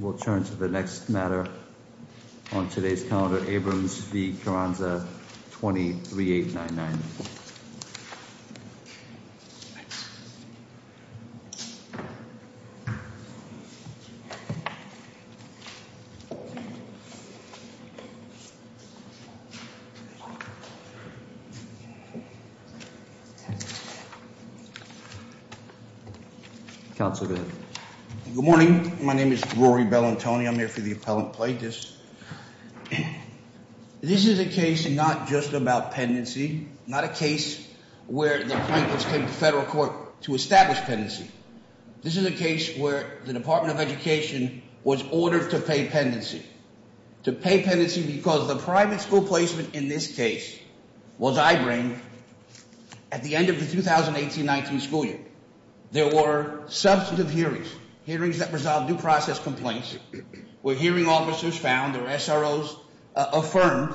We'll turn to the next matter on today's calendar Abrams v. Carranza 23 899 Good morning. My name is Rory Bellantoni. I'm here for the appellant plaintiffs. This is a case not just about pendency, not a case where the plaintiffs came to federal court to establish pendency. This is a case where the Department of Education was ordered to pay pendency. To pay pendency because the private school placement in this case was eyebrained at the end of the 2018-19 school year. There were substantive hearings, hearings that resolved due process complaints, where hearing officers found or SROs affirmed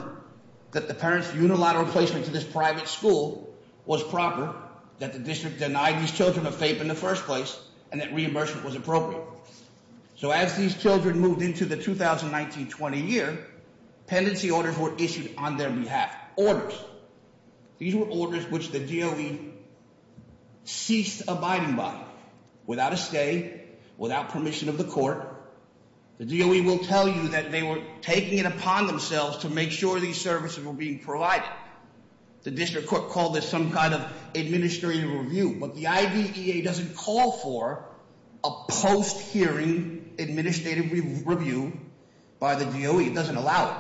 that the parents' unilateral placement to this private school was proper, that the district denied these children a fate in the first place, and that reimbursement was appropriate. So as these children moved into the 2019-20 year, pendency orders were issued on their behalf. Orders. These were orders which the DOE ceased abiding by, without a stay, without permission of the court. The DOE will tell you that they were taking it upon themselves to make sure these services were being provided. The district court called this some kind of administrative review. But the IDEA doesn't call for a post-hearing administrative review by the DOE. It doesn't allow it.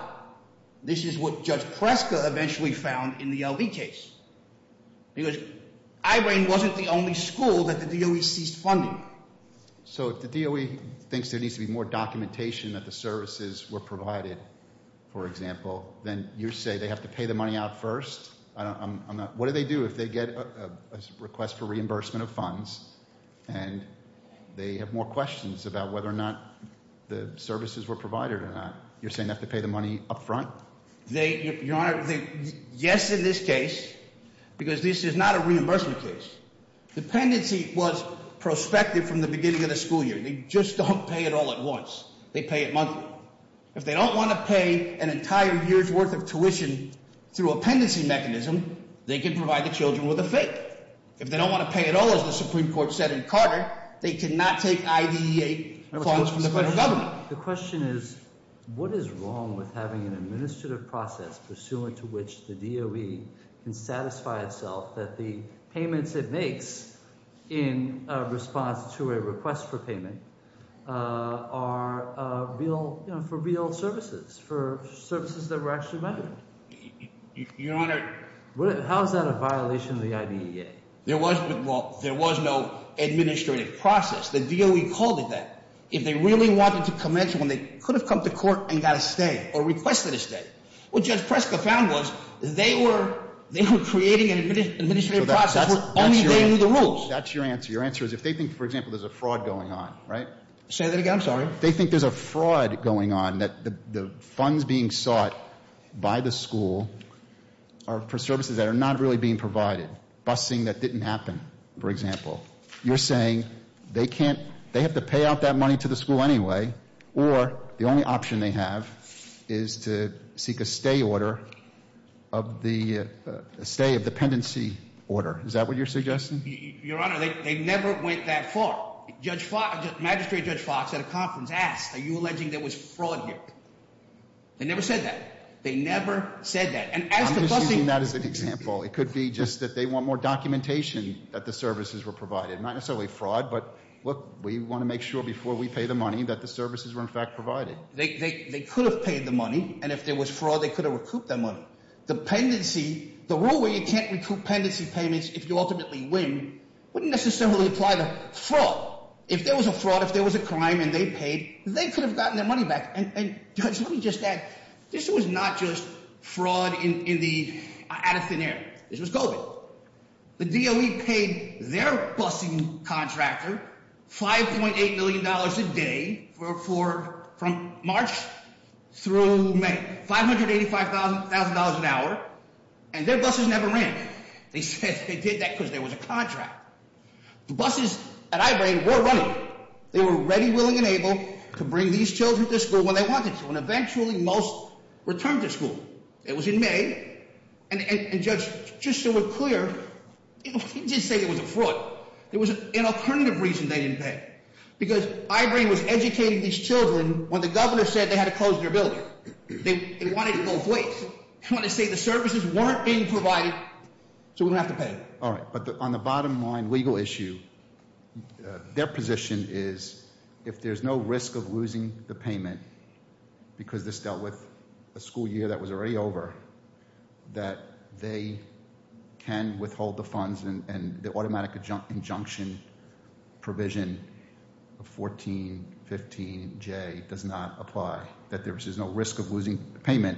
This is what Judge Preska eventually found in the LV case. Because eyebrain wasn't the only school that the DOE ceased funding. So if the DOE thinks there needs to be more documentation that the services were provided, for example, then you're saying they have to pay the money out first? What do they do if they get a request for reimbursement of funds and they have more questions about whether or not the services were provided or not? You're saying they have to pay the money up front? Your Honor, yes in this case, because this is not a reimbursement case. Dependency was prospective from the beginning of the school year. They just don't pay it all at once. They pay it monthly. If they don't want to pay an entire year's worth of tuition through a pendency mechanism, they can provide the children with a fee. If they don't want to pay it all, as the Supreme Court said in Carter, they cannot take IDEA funds from the federal government. The question is, what is wrong with having an administrative process pursuant to which the DOE can satisfy itself that the payments it makes in response to a request for payment are for real services, for services that were actually rendered? Your Honor- How is that a violation of the IDEA? There was no administrative process. The DOE called it that. If they really wanted to commence when they could have come to court and got a stay or requested a stay. What Judge Preska found was they were creating an administrative process. Only they knew the rules. That's your answer. Your answer is if they think, for example, there's a fraud going on, right? Say that again. I'm sorry. They think there's a fraud going on, that the funds being sought by the school are for services that are not really being provided, busing that didn't happen, for example. You're saying they have to pay out that money to the school anyway, or the only option they have is to seek a stay of dependency order. Is that what you're suggesting? Your Honor, they never went that far. Magistrate Judge Fox at a conference asked, are you alleging there was fraud here? They never said that. They never said that. And as to busing- I'm assuming that is an example. It could be just that they want more documentation that the services were provided. Not necessarily fraud, but look, we want to make sure before we pay the money that the services were in fact provided. They could have paid the money, and if there was fraud, they could have recouped that money. Dependency, the rule where you can't recoup pendency payments if you ultimately win, wouldn't necessarily apply to fraud. If there was a fraud, if there was a crime and they paid, they could have gotten their money back. And Judge, let me just add, this was not just fraud out of thin air. This was COVID. The DOE paid their busing contractor $5.8 million a day from March through May. $585,000 an hour, and their buses never ran. They said they did that because there was a contract. The buses that I ran were running. They were ready, willing, and able to bring these children to school when they wanted to, and eventually most returned to school. It was in May, and Judge, just so we're clear, we didn't say it was a fraud. It was an alternative reason they didn't pay. Because Ibram was educating these children when the governor said they had to close their building. They wanted it both ways. They wanted to say the services weren't being provided, so we don't have to pay. All right, but on the bottom line legal issue, their position is if there's no risk of losing the payment because this dealt with a school year that was already over, that they can withhold the funds and the automatic injunction provision of 1415J does not apply, that there's no risk of losing the payment.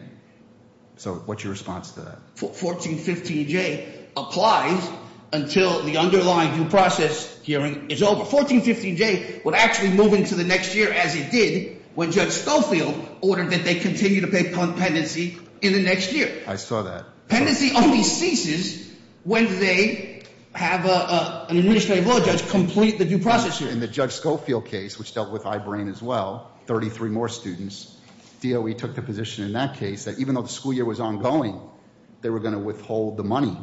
So what's your response to that? 1415J applies until the underlying due process hearing is over. 1415J would actually move into the next year as it did when Judge Schofield ordered that they continue to pay penancy in the next year. I saw that. Penancy only ceases when they have an administrative law judge complete the due process hearing. In the Judge Schofield case, which dealt with Ibram as well, 33 more students, DOE took the position in that case that even though the school year was ongoing, they were going to withhold the money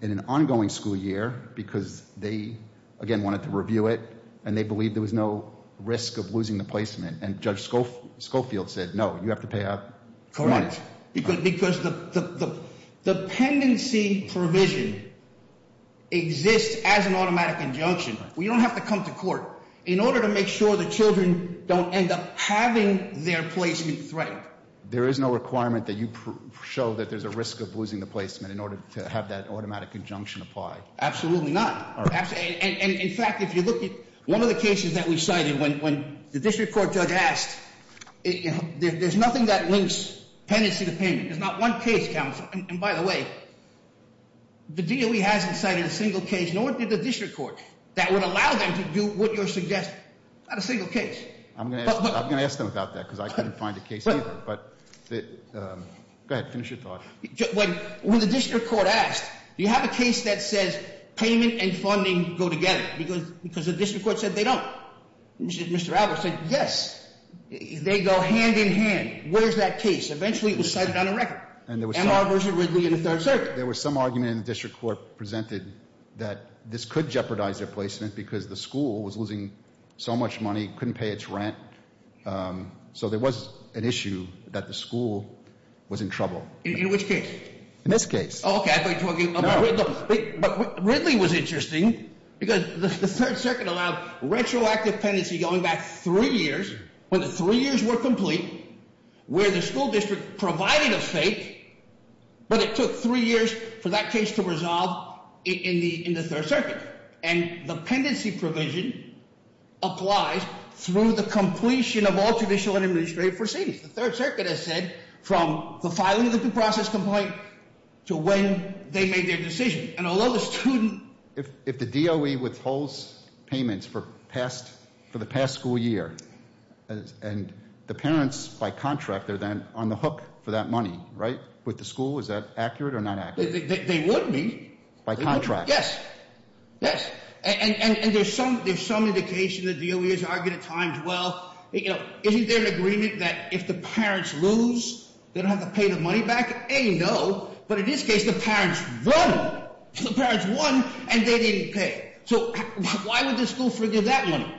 in an ongoing school year because they, again, wanted to review it and they believed there was no risk of losing the placement. And Judge Schofield said, no, you have to pay up. Correct. Because the pendency provision exists as an automatic injunction. We don't have to come to court. In order to make sure the children don't end up having their placement threatened. There is no requirement that you show that there's a risk of losing the placement in order to have that automatic injunction apply. Absolutely not. In fact, if you look at one of the cases that we cited, when the district court judge asked, there's nothing that links penancy to payment. There's not one case, counsel. And by the way, the DOE hasn't cited a single case, nor did the district court, that would allow them to do what you're suggesting. Not a single case. I'm going to ask them about that because I couldn't find a case either. But go ahead, finish your thought. When the district court asked, do you have a case that says payment and funding go together? Because the district court said they don't. Mr. Albert said, yes. They go hand in hand. Where's that case? Eventually it was cited on a record. Amar v. Ridley in the Third Circuit. There was some argument in the district court presented that this could jeopardize their placement because the school was losing so much money, couldn't pay its rent. So there was an issue that the school was in trouble. In which case? In this case. Okay. Ridley was interesting because the Third Circuit allowed retroactive penancy going back three years. When the three years were complete, where the school district provided a fate, but it took three years for that case to resolve in the Third Circuit. And the pendency provision applies through the completion of all judicial and administrative proceedings. The Third Circuit has said from the filing of the due process complaint to when they made their decision. If the DOE withholds payments for the past school year, and the parents, by contract, are then on the hook for that money, right? With the school? Is that accurate or not accurate? They would be. By contract? Yes. Yes. And there's some indication that DOE has argued at times, well, isn't there an agreement that if the parents lose, they don't have to pay the money back? A, no. But in this case, the parents won. The parents won, and they didn't pay. So why would the school forgive that money?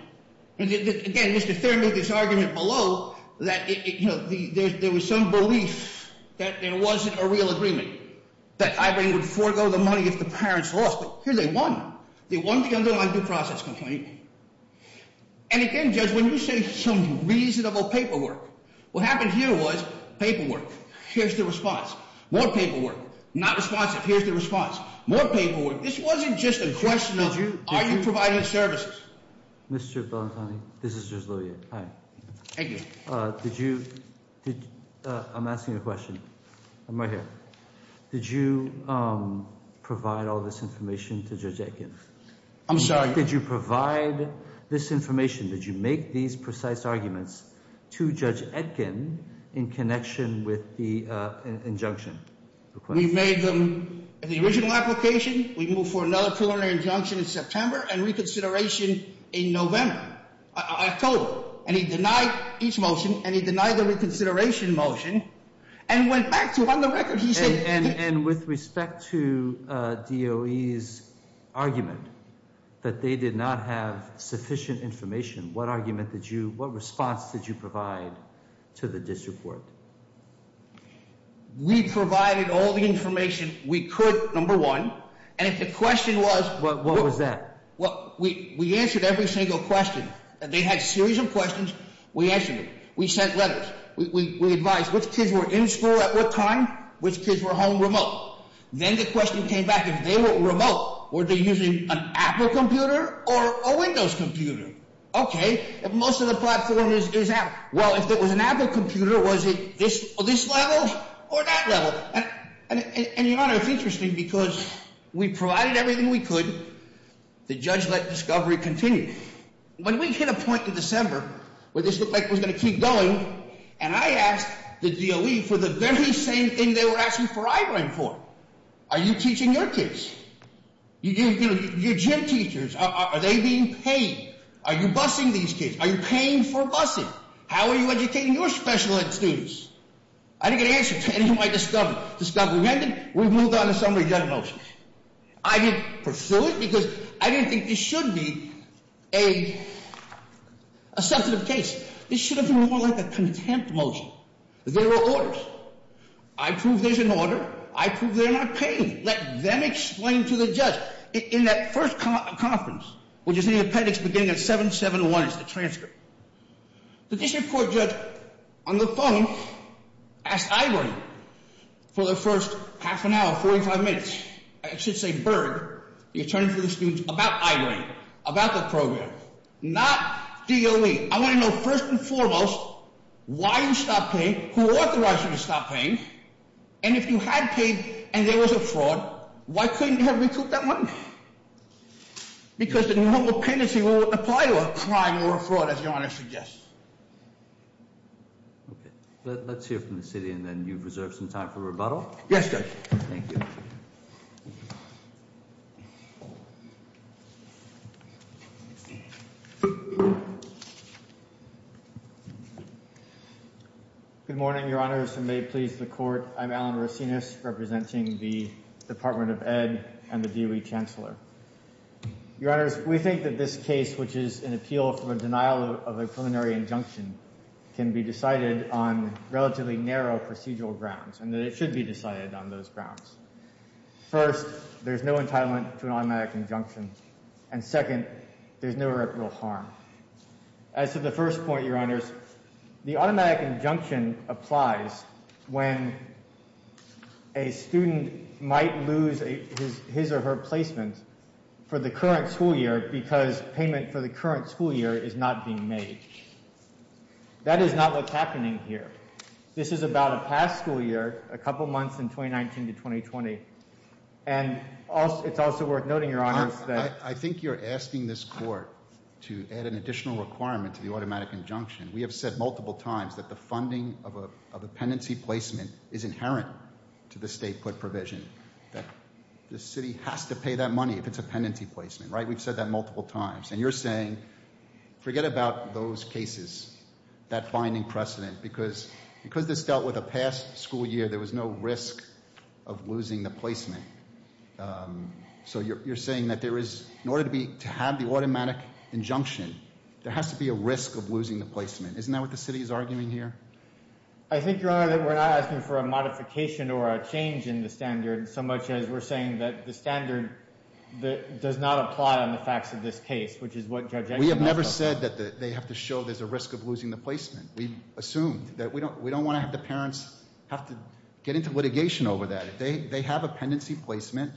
Again, Mr. Thurman made this argument below that there was some belief that there wasn't a real agreement. That IBRA would forego the money if the parents lost. But here they won. They won the underlying due process complaint. And again, Judge, when you say some reasonable paperwork, what happened here was paperwork. Here's the response. More paperwork. Not responsive. Here's the response. More paperwork. This wasn't just a question of are you providing the services? Mr. Bellantoni, this is Judge Lilliot. Hi. Thank you. Did you – I'm asking you a question. I'm right here. Did you provide all this information to Judge Etkin? I'm sorry? Did you provide this information? Did you make these precise arguments to Judge Etkin in connection with the injunction? We made them in the original application. We moved for another preliminary injunction in September and reconsideration in November, October. And he denied each motion, and he denied the reconsideration motion, and went back to run the record. And with respect to DOE's argument that they did not have sufficient information, what argument did you – what response did you provide to the disreport? We provided all the information we could, number one. And if the question was – What was that? We answered every single question. They had a series of questions. We answered them. We sent letters. We advised which kids were in school at what time, which kids were home remote. Then the question came back, if they were remote, were they using an Apple computer or a Windows computer? Okay. Most of the platform is Apple. Well, if it was an Apple computer, was it this level or that level? And, Your Honor, it's interesting because we provided everything we could. The judge let discovery continue. When we hit a point in December where this looked like it was going to keep going, and I asked the DOE for the very same thing they were asking for Iberian for. Are you teaching your kids? Your gym teachers, are they being paid? Are you busing these kids? Are you paying for busing? How are you educating your special ed students? I didn't get an answer to any of my discovery. Discovery ended. We moved on to summary judgment motion. I didn't pursue it because I didn't think this should be a substantive case. This should have been more like a contempt motion. There were orders. I proved there's an order. I proved they're not paying. Let them explain to the judge. In that first conference, which is in the appendix beginning at 7-7-1, it's the transcript. The district court judge on the phone asked Iberian for the first half an hour, 45 minutes. I should say Berg, the attorney for the students, about Iberian, about the program. Not DOE. I want to know first and foremost why you stopped paying, who authorized you to stop paying, and if you had paid and there was a fraud, why couldn't you have recouped that money? Because the normal penalty won't apply to a crime or a fraud, as your Honor suggests. Okay. Let's hear from the city and then you've reserved some time for rebuttal. Yes, Judge. Thank you. Good morning, Your Honors, and may it please the Court. I'm Alan Racinus, representing the Department of Ed and the DOE Chancellor. Your Honors, we think that this case, which is an appeal for a denial of a preliminary injunction, can be decided on relatively narrow procedural grounds and that it should be decided on those grounds. First, there's no entitlement to an automatic injunction. And second, there's no real harm. As to the first point, Your Honors, the automatic injunction applies when a student might lose his or her placement for the current school year because payment for the current school year is not being made. That is not what's happening here. This is about a past school year, a couple months in 2019 to 2020. And it's also worth noting, Your Honors, that... ...an additional requirement to the automatic injunction. We have said multiple times that the funding of a pendency placement is inherent to the state put provision. That the city has to pay that money if it's a pendency placement, right? We've said that multiple times. And you're saying, forget about those cases, that binding precedent, because this dealt with a past school year, there was no risk of losing the placement. So you're saying that there is, in order to have the automatic injunction, there has to be a risk of losing the placement. Isn't that what the city is arguing here? I think, Your Honor, that we're not asking for a modification or a change in the standard so much as we're saying that the standard does not apply on the facts of this case, which is what Judge Eichmann has said. We have never said that they have to show there's a risk of losing the placement. We've assumed that we don't want to have the parents have to get into litigation over that. They have a pendency placement.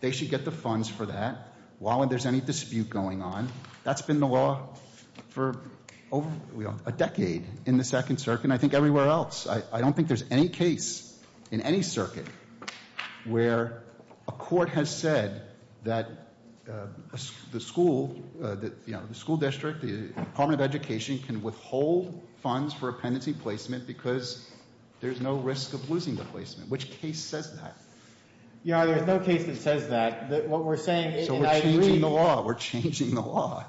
They should get the funds for that while there's any dispute going on. That's been the law for over a decade in the Second Circuit and I think everywhere else. I don't think there's any case in any circuit where a court has said that the school, the school district, the Department of Education can withhold funds for a pendency placement because there's no risk of losing the placement. Which case says that? Your Honor, there's no case that says that. What we're saying is that I agree. So we're changing the law. We're changing the law.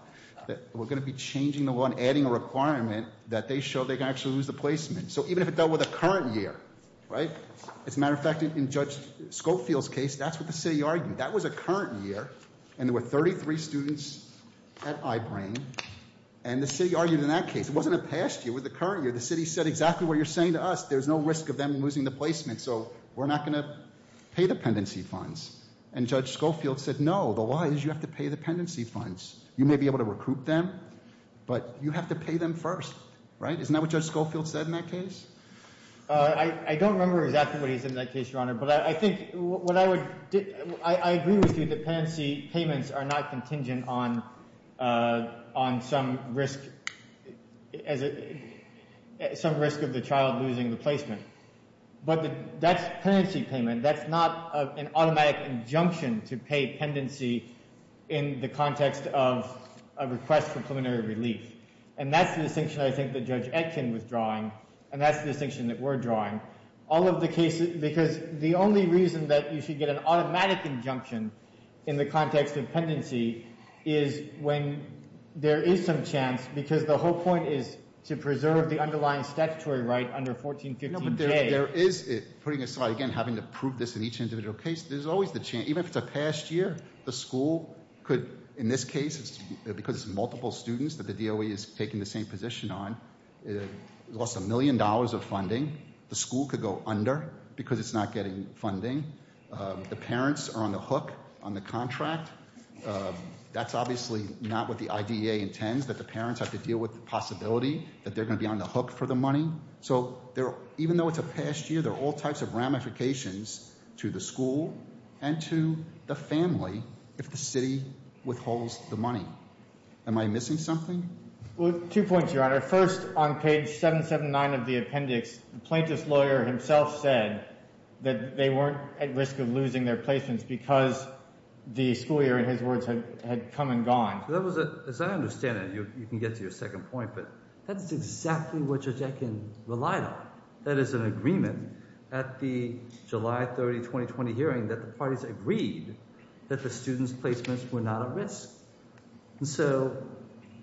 We're going to be changing the law and adding a requirement that they show they can actually lose the placement. So even if it dealt with a current year, right? As a matter of fact, in Judge Scofield's case, that's what the city argued. That was a current year and there were 33 students at I-Brain and the city argued in that case. It wasn't a past year. It was a current year. The city said exactly what you're saying to us. There's no risk of them losing the placement, so we're not going to pay the pendency funds. And Judge Scofield said no. The law is you have to pay the pendency funds. You may be able to recruit them, but you have to pay them first, right? Isn't that what Judge Scofield said in that case? I don't remember exactly what he said in that case, Your Honor. I agree with you that pendency payments are not contingent on some risk of the child losing the placement. But that's a pendency payment. That's not an automatic injunction to pay pendency in the context of a request for preliminary relief. And that's the distinction I think that Judge Etkin was drawing and that's the distinction that we're drawing. All of the cases, because the only reason that you should get an automatic injunction in the context of pendency is when there is some chance, because the whole point is to preserve the underlying statutory right under 1415J. No, but there is, putting aside, again, having to prove this in each individual case, there's always the chance, even if it's a past year, the school could, in this case, because it's multiple students that the DOE is taking the same position on, lost a million dollars of funding, the school could go under because it's not getting funding. The parents are on the hook on the contract. That's obviously not what the IDEA intends, that the parents have to deal with the possibility that they're going to be on the hook for the money. So even though it's a past year, there are all types of ramifications to the school and to the family if the city withholds the money. Am I missing something? Well, two points, Your Honor. First, on page 779 of the appendix, the plaintiff's lawyer himself said that they weren't at risk of losing their placements because the school year, in his words, had come and gone. As I understand it, you can get to your second point, but that's exactly what Jodekin relied on. That is an agreement at the July 30, 2020 hearing that the parties agreed that the students' placements were not at risk. So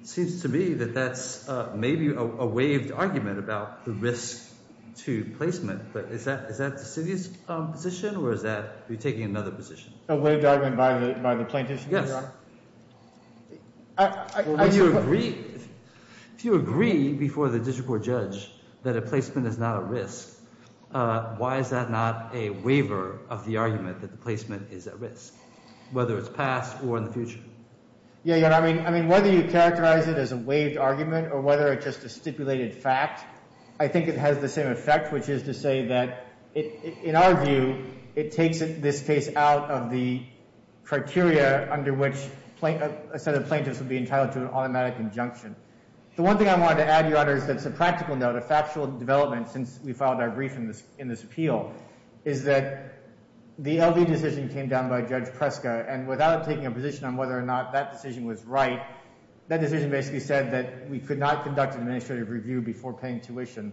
it seems to me that that's maybe a waived argument about the risk to placement, but is that the city's position or is that you're taking another position? A waived argument by the plaintiffs, Your Honor? Yes. If you agree before the district court judge that a placement is not at risk, why is that not a waiver of the argument that the placement is at risk, whether it's past or in the future? I mean, whether you characterize it as a waived argument or whether it's just a stipulated fact, I think it has the same effect, which is to say that, in our view, it takes this case out of the criteria under which a set of plaintiffs would be entitled to an automatic injunction. The one thing I wanted to add, Your Honor, is that it's a practical note, a factual development since we filed our brief in this appeal, is that the LV decision came down by Judge Preska, and without taking a position on whether or not that decision was right, that decision basically said that we could not conduct an administrative review before paying tuition.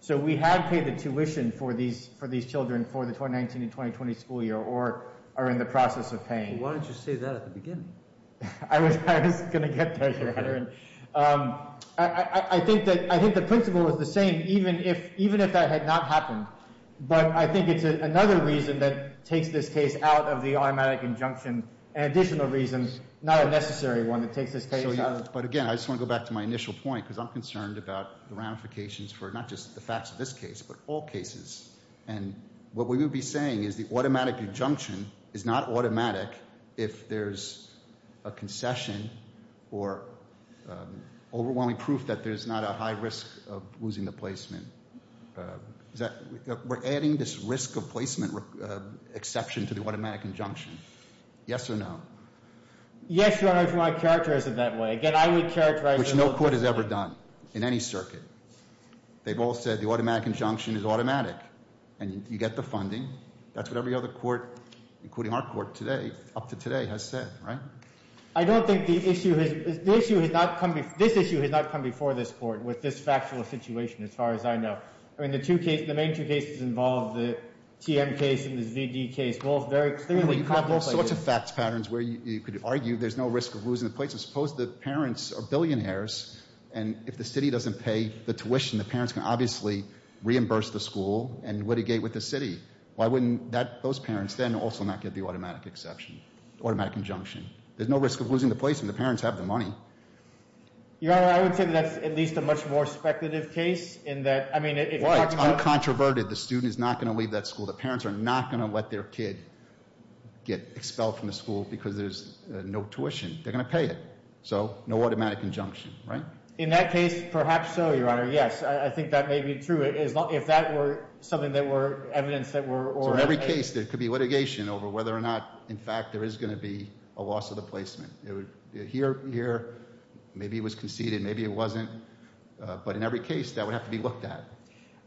So we had paid the tuition for these children for the 2019 and 2020 school year or are in the process of paying. Why didn't you say that at the beginning? I was going to get there, Your Honor. I think the principle is the same, even if that had not happened. But I think it's another reason that takes this case out of the automatic injunction, an additional reason, not a necessary one, that takes this case out of it. So you're saying that this is a concession or overwhelming proof that there's not a high risk of losing the placement. We're adding this risk of placement exception to the automatic injunction. Yes or no? Yes, Your Honor, if my character isn't that way. Again, I would characterize it as- Which no court has ever done in any circuit. They've all said the automatic injunction is automatic, and you get the funding. That's what every other court, including our court today, up to today, has said, right? I don't think the issue has- This issue has not come before this court with this factual situation, as far as I know. I mean, the two cases, the main two cases involved, the TM case and the ZD case, both very clearly- You have all sorts of fact patterns where you could argue there's no risk of losing the place. Suppose the parents are billionaires, and if the city doesn't pay the tuition, the parents can obviously reimburse the school and litigate with the city. Why wouldn't those parents then also not get the automatic exception, automatic injunction? There's no risk of losing the placement. The parents have the money. Your Honor, I would say that that's at least a much more speculative case in that- Well, it's uncontroverted. The student is not going to leave that school. The parents are not going to let their kid get expelled from the school because there's no tuition. They're going to pay it, so no automatic injunction, right? In that case, perhaps so, Your Honor. Yes, I think that may be true. If that were something that were evidence that were- So in every case, there could be litigation over whether or not, in fact, there is going to be a loss of the placement. Here, maybe it was conceded. Maybe it wasn't. But in every case, that would have to be looked at.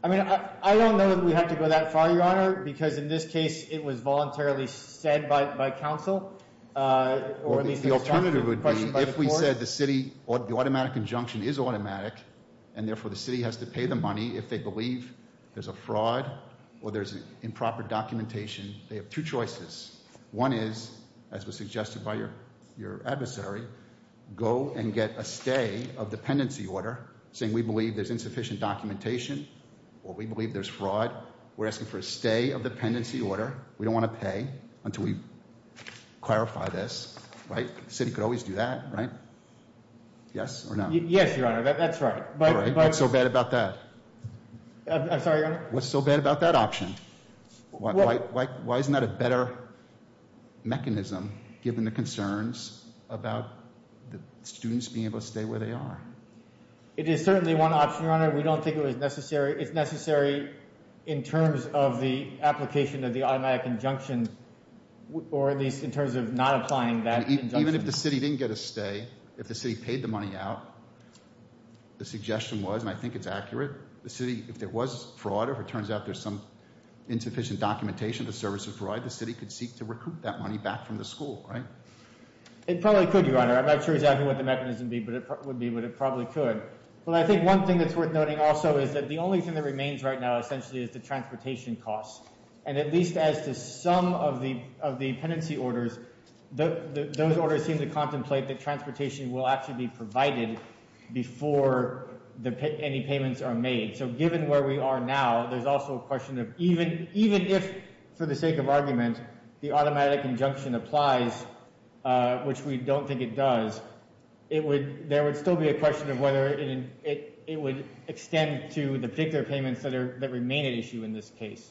I mean, I don't know that we have to go that far, Your Honor, because in this case, it was voluntarily said by counsel. The alternative would be if we said the city, the automatic injunction is automatic, and therefore the city has to pay the money if they believe there's a fraud or there's improper documentation. They have two choices. One is, as was suggested by your adversary, go and get a stay of dependency order, saying we believe there's insufficient documentation or we believe there's fraud. We're asking for a stay of dependency order. We don't want to pay until we clarify this, right? The city could always do that, right? Yes or no? Yes, Your Honor, that's right. All right, what's so bad about that? I'm sorry, Your Honor? What's so bad about that option? Why isn't that a better mechanism, given the concerns about the students being able to stay where they are? It is certainly one option, Your Honor. We don't think it was necessary. It's necessary in terms of the application of the automatic injunction, or at least in terms of not applying that injunction. Even if the city didn't get a stay, if the city paid the money out, the suggestion was, and I think it's accurate, the city, if there was fraud, if it turns out there's some insufficient documentation the services provide, the city could seek to recoup that money back from the school, right? It probably could, Your Honor. I'm not sure exactly what the mechanism would be, but it probably could. Well, I think one thing that's worth noting also is that the only thing that remains right now essentially is the transportation costs. And at least as to some of the penancy orders, those orders seem to contemplate that transportation will actually be provided before any payments are made. So given where we are now, there's also a question of even if, for the sake of argument, the automatic injunction applies, which we don't think it does, there would still be a question of whether it would extend to the particular payments that remain at issue in this case.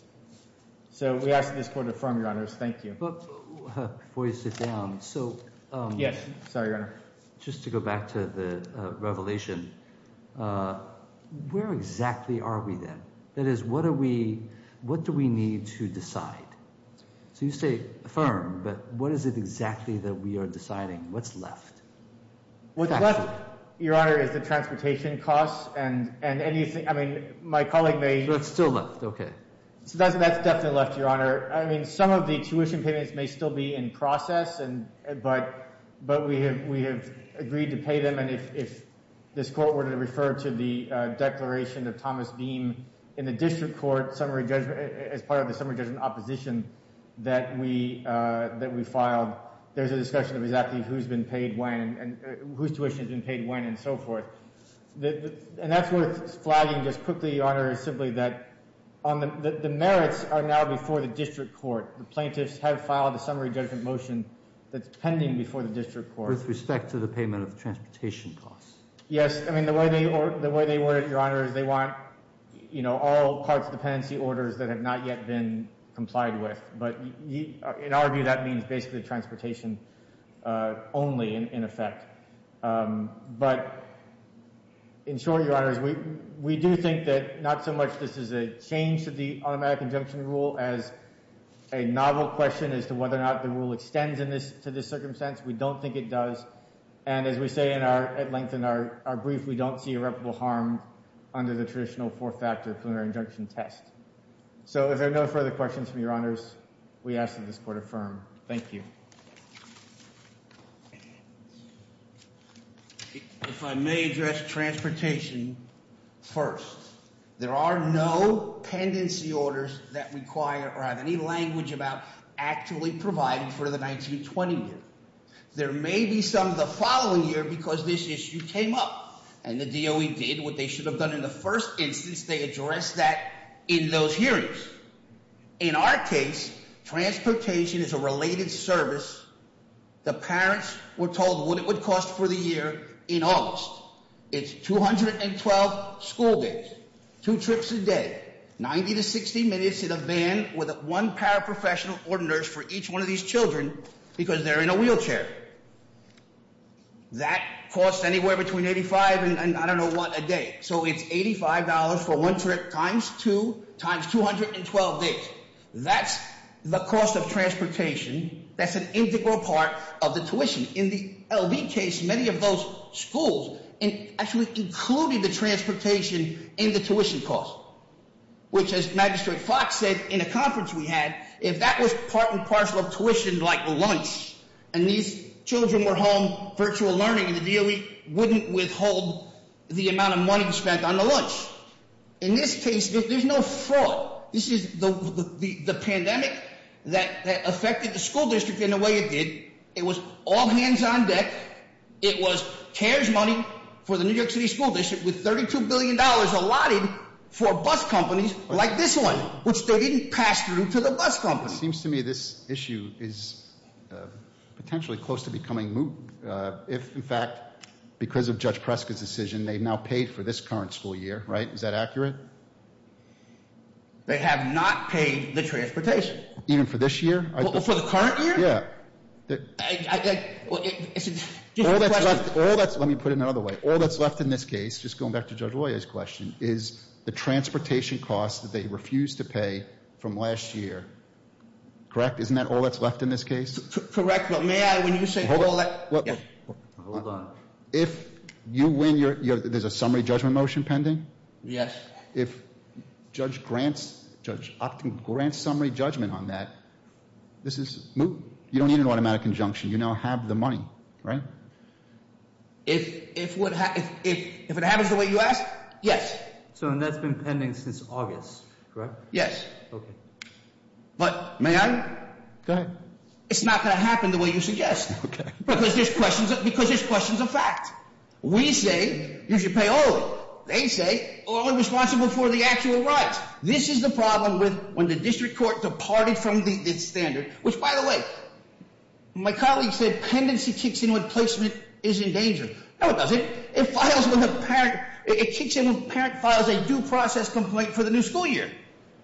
So we ask that this court affirm, Your Honors. Thank you. Before you sit down, so just to go back to the revelation, where exactly are we then? That is, what do we need to decide? So you say affirm, but what is it exactly that we are deciding? What's left? What's left, Your Honor, is the transportation costs and anything. I mean, my colleague may— So it's still left, okay. So that's definitely left, Your Honor. I mean, some of the tuition payments may still be in process, but we have agreed to pay them. If this court were to refer to the declaration of Thomas Beam in the district court summary judgment as part of the summary judgment opposition that we filed, there's a discussion of exactly who's been paid when and whose tuition has been paid when and so forth. And that's worth flagging just quickly, Your Honor, simply that the merits are now before the district court. The plaintiffs have filed a summary judgment motion that's pending before the district court. With respect to the payment of transportation costs. Yes. I mean, the way they want it, Your Honor, is they want all parts dependency orders that have not yet been complied with. But in our view, that means basically transportation only, in effect. But in short, Your Honors, we do think that not so much this is a change to the automatic injunction rule as a novel question as to whether or not the rule extends to this circumstance. We don't think it does. And as we say at length in our brief, we don't see irreparable harm under the traditional four factor preliminary injunction test. So if there are no further questions from Your Honors, we ask that this court affirm. Thank you. If I may address transportation first. There are no pendency orders that require or have any language about actually providing for the 19-20 year. There may be some the following year because this issue came up. And the DOE did what they should have done in the first instance. They addressed that in those hearings. In our case, transportation is a related service. The parents were told what it would cost for the year in August. It's 212 school days. Two trips a day. 90 to 60 minutes in a van with one paraprofessional or nurse for each one of these children because they're in a wheelchair. That costs anywhere between 85 and I don't know what a day. So it's $85 for one trip times two times 212 days. That's the cost of transportation. That's an integral part of the tuition. In the LV case, many of those schools actually included the transportation in the tuition cost. Which as Magistrate Fox said in a conference we had, if that was part and parcel of tuition like lunch, and these children were home virtual learning, the DOE wouldn't withhold the amount of money spent on the lunch. In this case, there's no fraud. This is the pandemic that affected the school district in the way it did. It was all hands on deck. It was CARES money for the New York City School District with $32 billion allotted for bus companies like this one. Which they didn't pass through to the bus company. It seems to me this issue is potentially close to becoming moot. If in fact, because of Judge Prescott's decision, they've now paid for this current school year, right? Is that accurate? They have not paid the transportation. Even for this year? For the current year? Yeah. Let me put it another way. All that's left in this case, just going back to Judge Loya's question, is the transportation cost that they refused to pay from last year. Correct? Isn't that all that's left in this case? Correct. But may I, when you say all that... Hold on. Hold on. If you win, there's a summary judgment motion pending? Yes. If Judge Grant's summary judgment on that, this is moot. You don't need an automatic injunction. You now have the money, right? If it happens the way you ask, yes. So that's been pending since August, correct? Yes. Okay. But may I? Go ahead. It's not going to happen the way you suggest. Okay. Because there's questions of fact. We say you should pay all. They say only responsible for the actual rights. This is the problem with when the district court departed from the standard, which, by the way, my colleague said pendency kicks in when placement is in danger. No, it doesn't. It kicks in when a parent files a due process complaint for the new school year.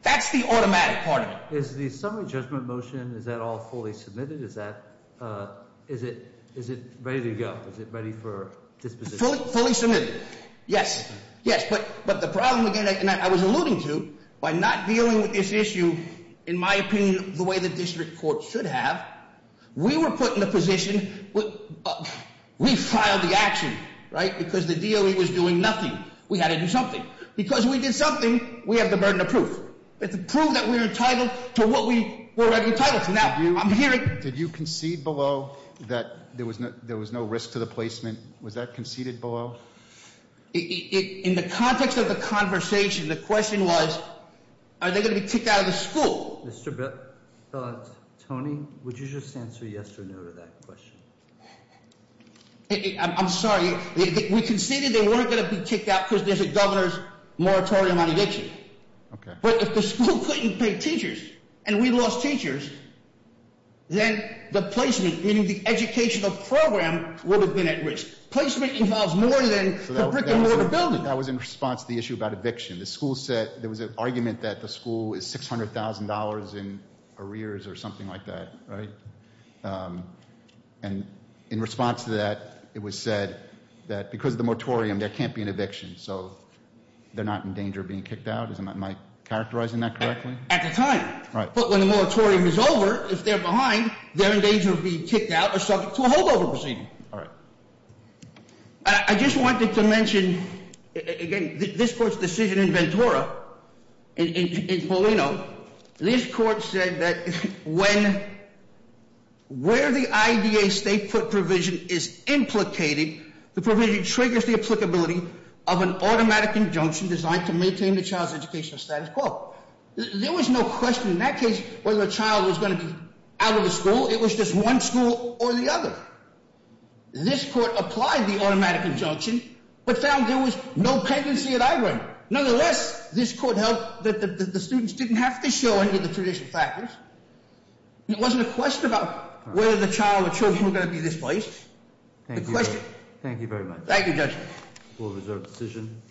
That's the automatic part of it. Is the summary judgment motion, is that all fully submitted? Is it ready to go? Is it ready for disposition? Fully submitted. Yes. Yes. But the problem, again, and I was alluding to, by not dealing with this issue, in my opinion, the way the district court should have, we were put in the position, we filed the action, right? Because the DOE was doing nothing. We had to do something. Because we did something, we have the burden of proof. It's proof that we're entitled to what we were already entitled to. Now, I'm hearing. Did you concede below that there was no risk to the placement? Was that conceded below? In the context of the conversation, the question was, are they going to be kicked out of the school? Tony, would you just answer yes or no to that question? I'm sorry. We conceded they weren't going to be kicked out because there's a governor's moratorium on eviction. Okay. But if the school couldn't pay teachers, and we lost teachers, then the placement, meaning the educational program would have been at risk. Placement involves more than the brick and mortar building. That was in response to the issue about eviction. There was an argument that the school is $600,000 in arrears or something like that, right? And in response to that, it was said that because of the moratorium, there can't be an eviction. So they're not in danger of being kicked out? Am I characterizing that correctly? At the time. Right. But when the moratorium is over, if they're behind, they're in danger of being kicked out or subject to a holdover proceeding. All right. I just wanted to mention, again, this court's decision in Ventura, in Paulino, this court said that where the IDA state foot provision is implicated, the provision triggers the applicability of an automatic injunction designed to maintain the child's educational status quo. There was no question in that case whether a child was going to be out of the school. It was just one school or the other. This court applied the automatic injunction but found there was no pendency at either end. Nonetheless, this court held that the students didn't have to show any of the traditional factors. It wasn't a question about whether the child or children were going to be displaced. Thank you very much. Thank you, Judge. We'll reserve the decision.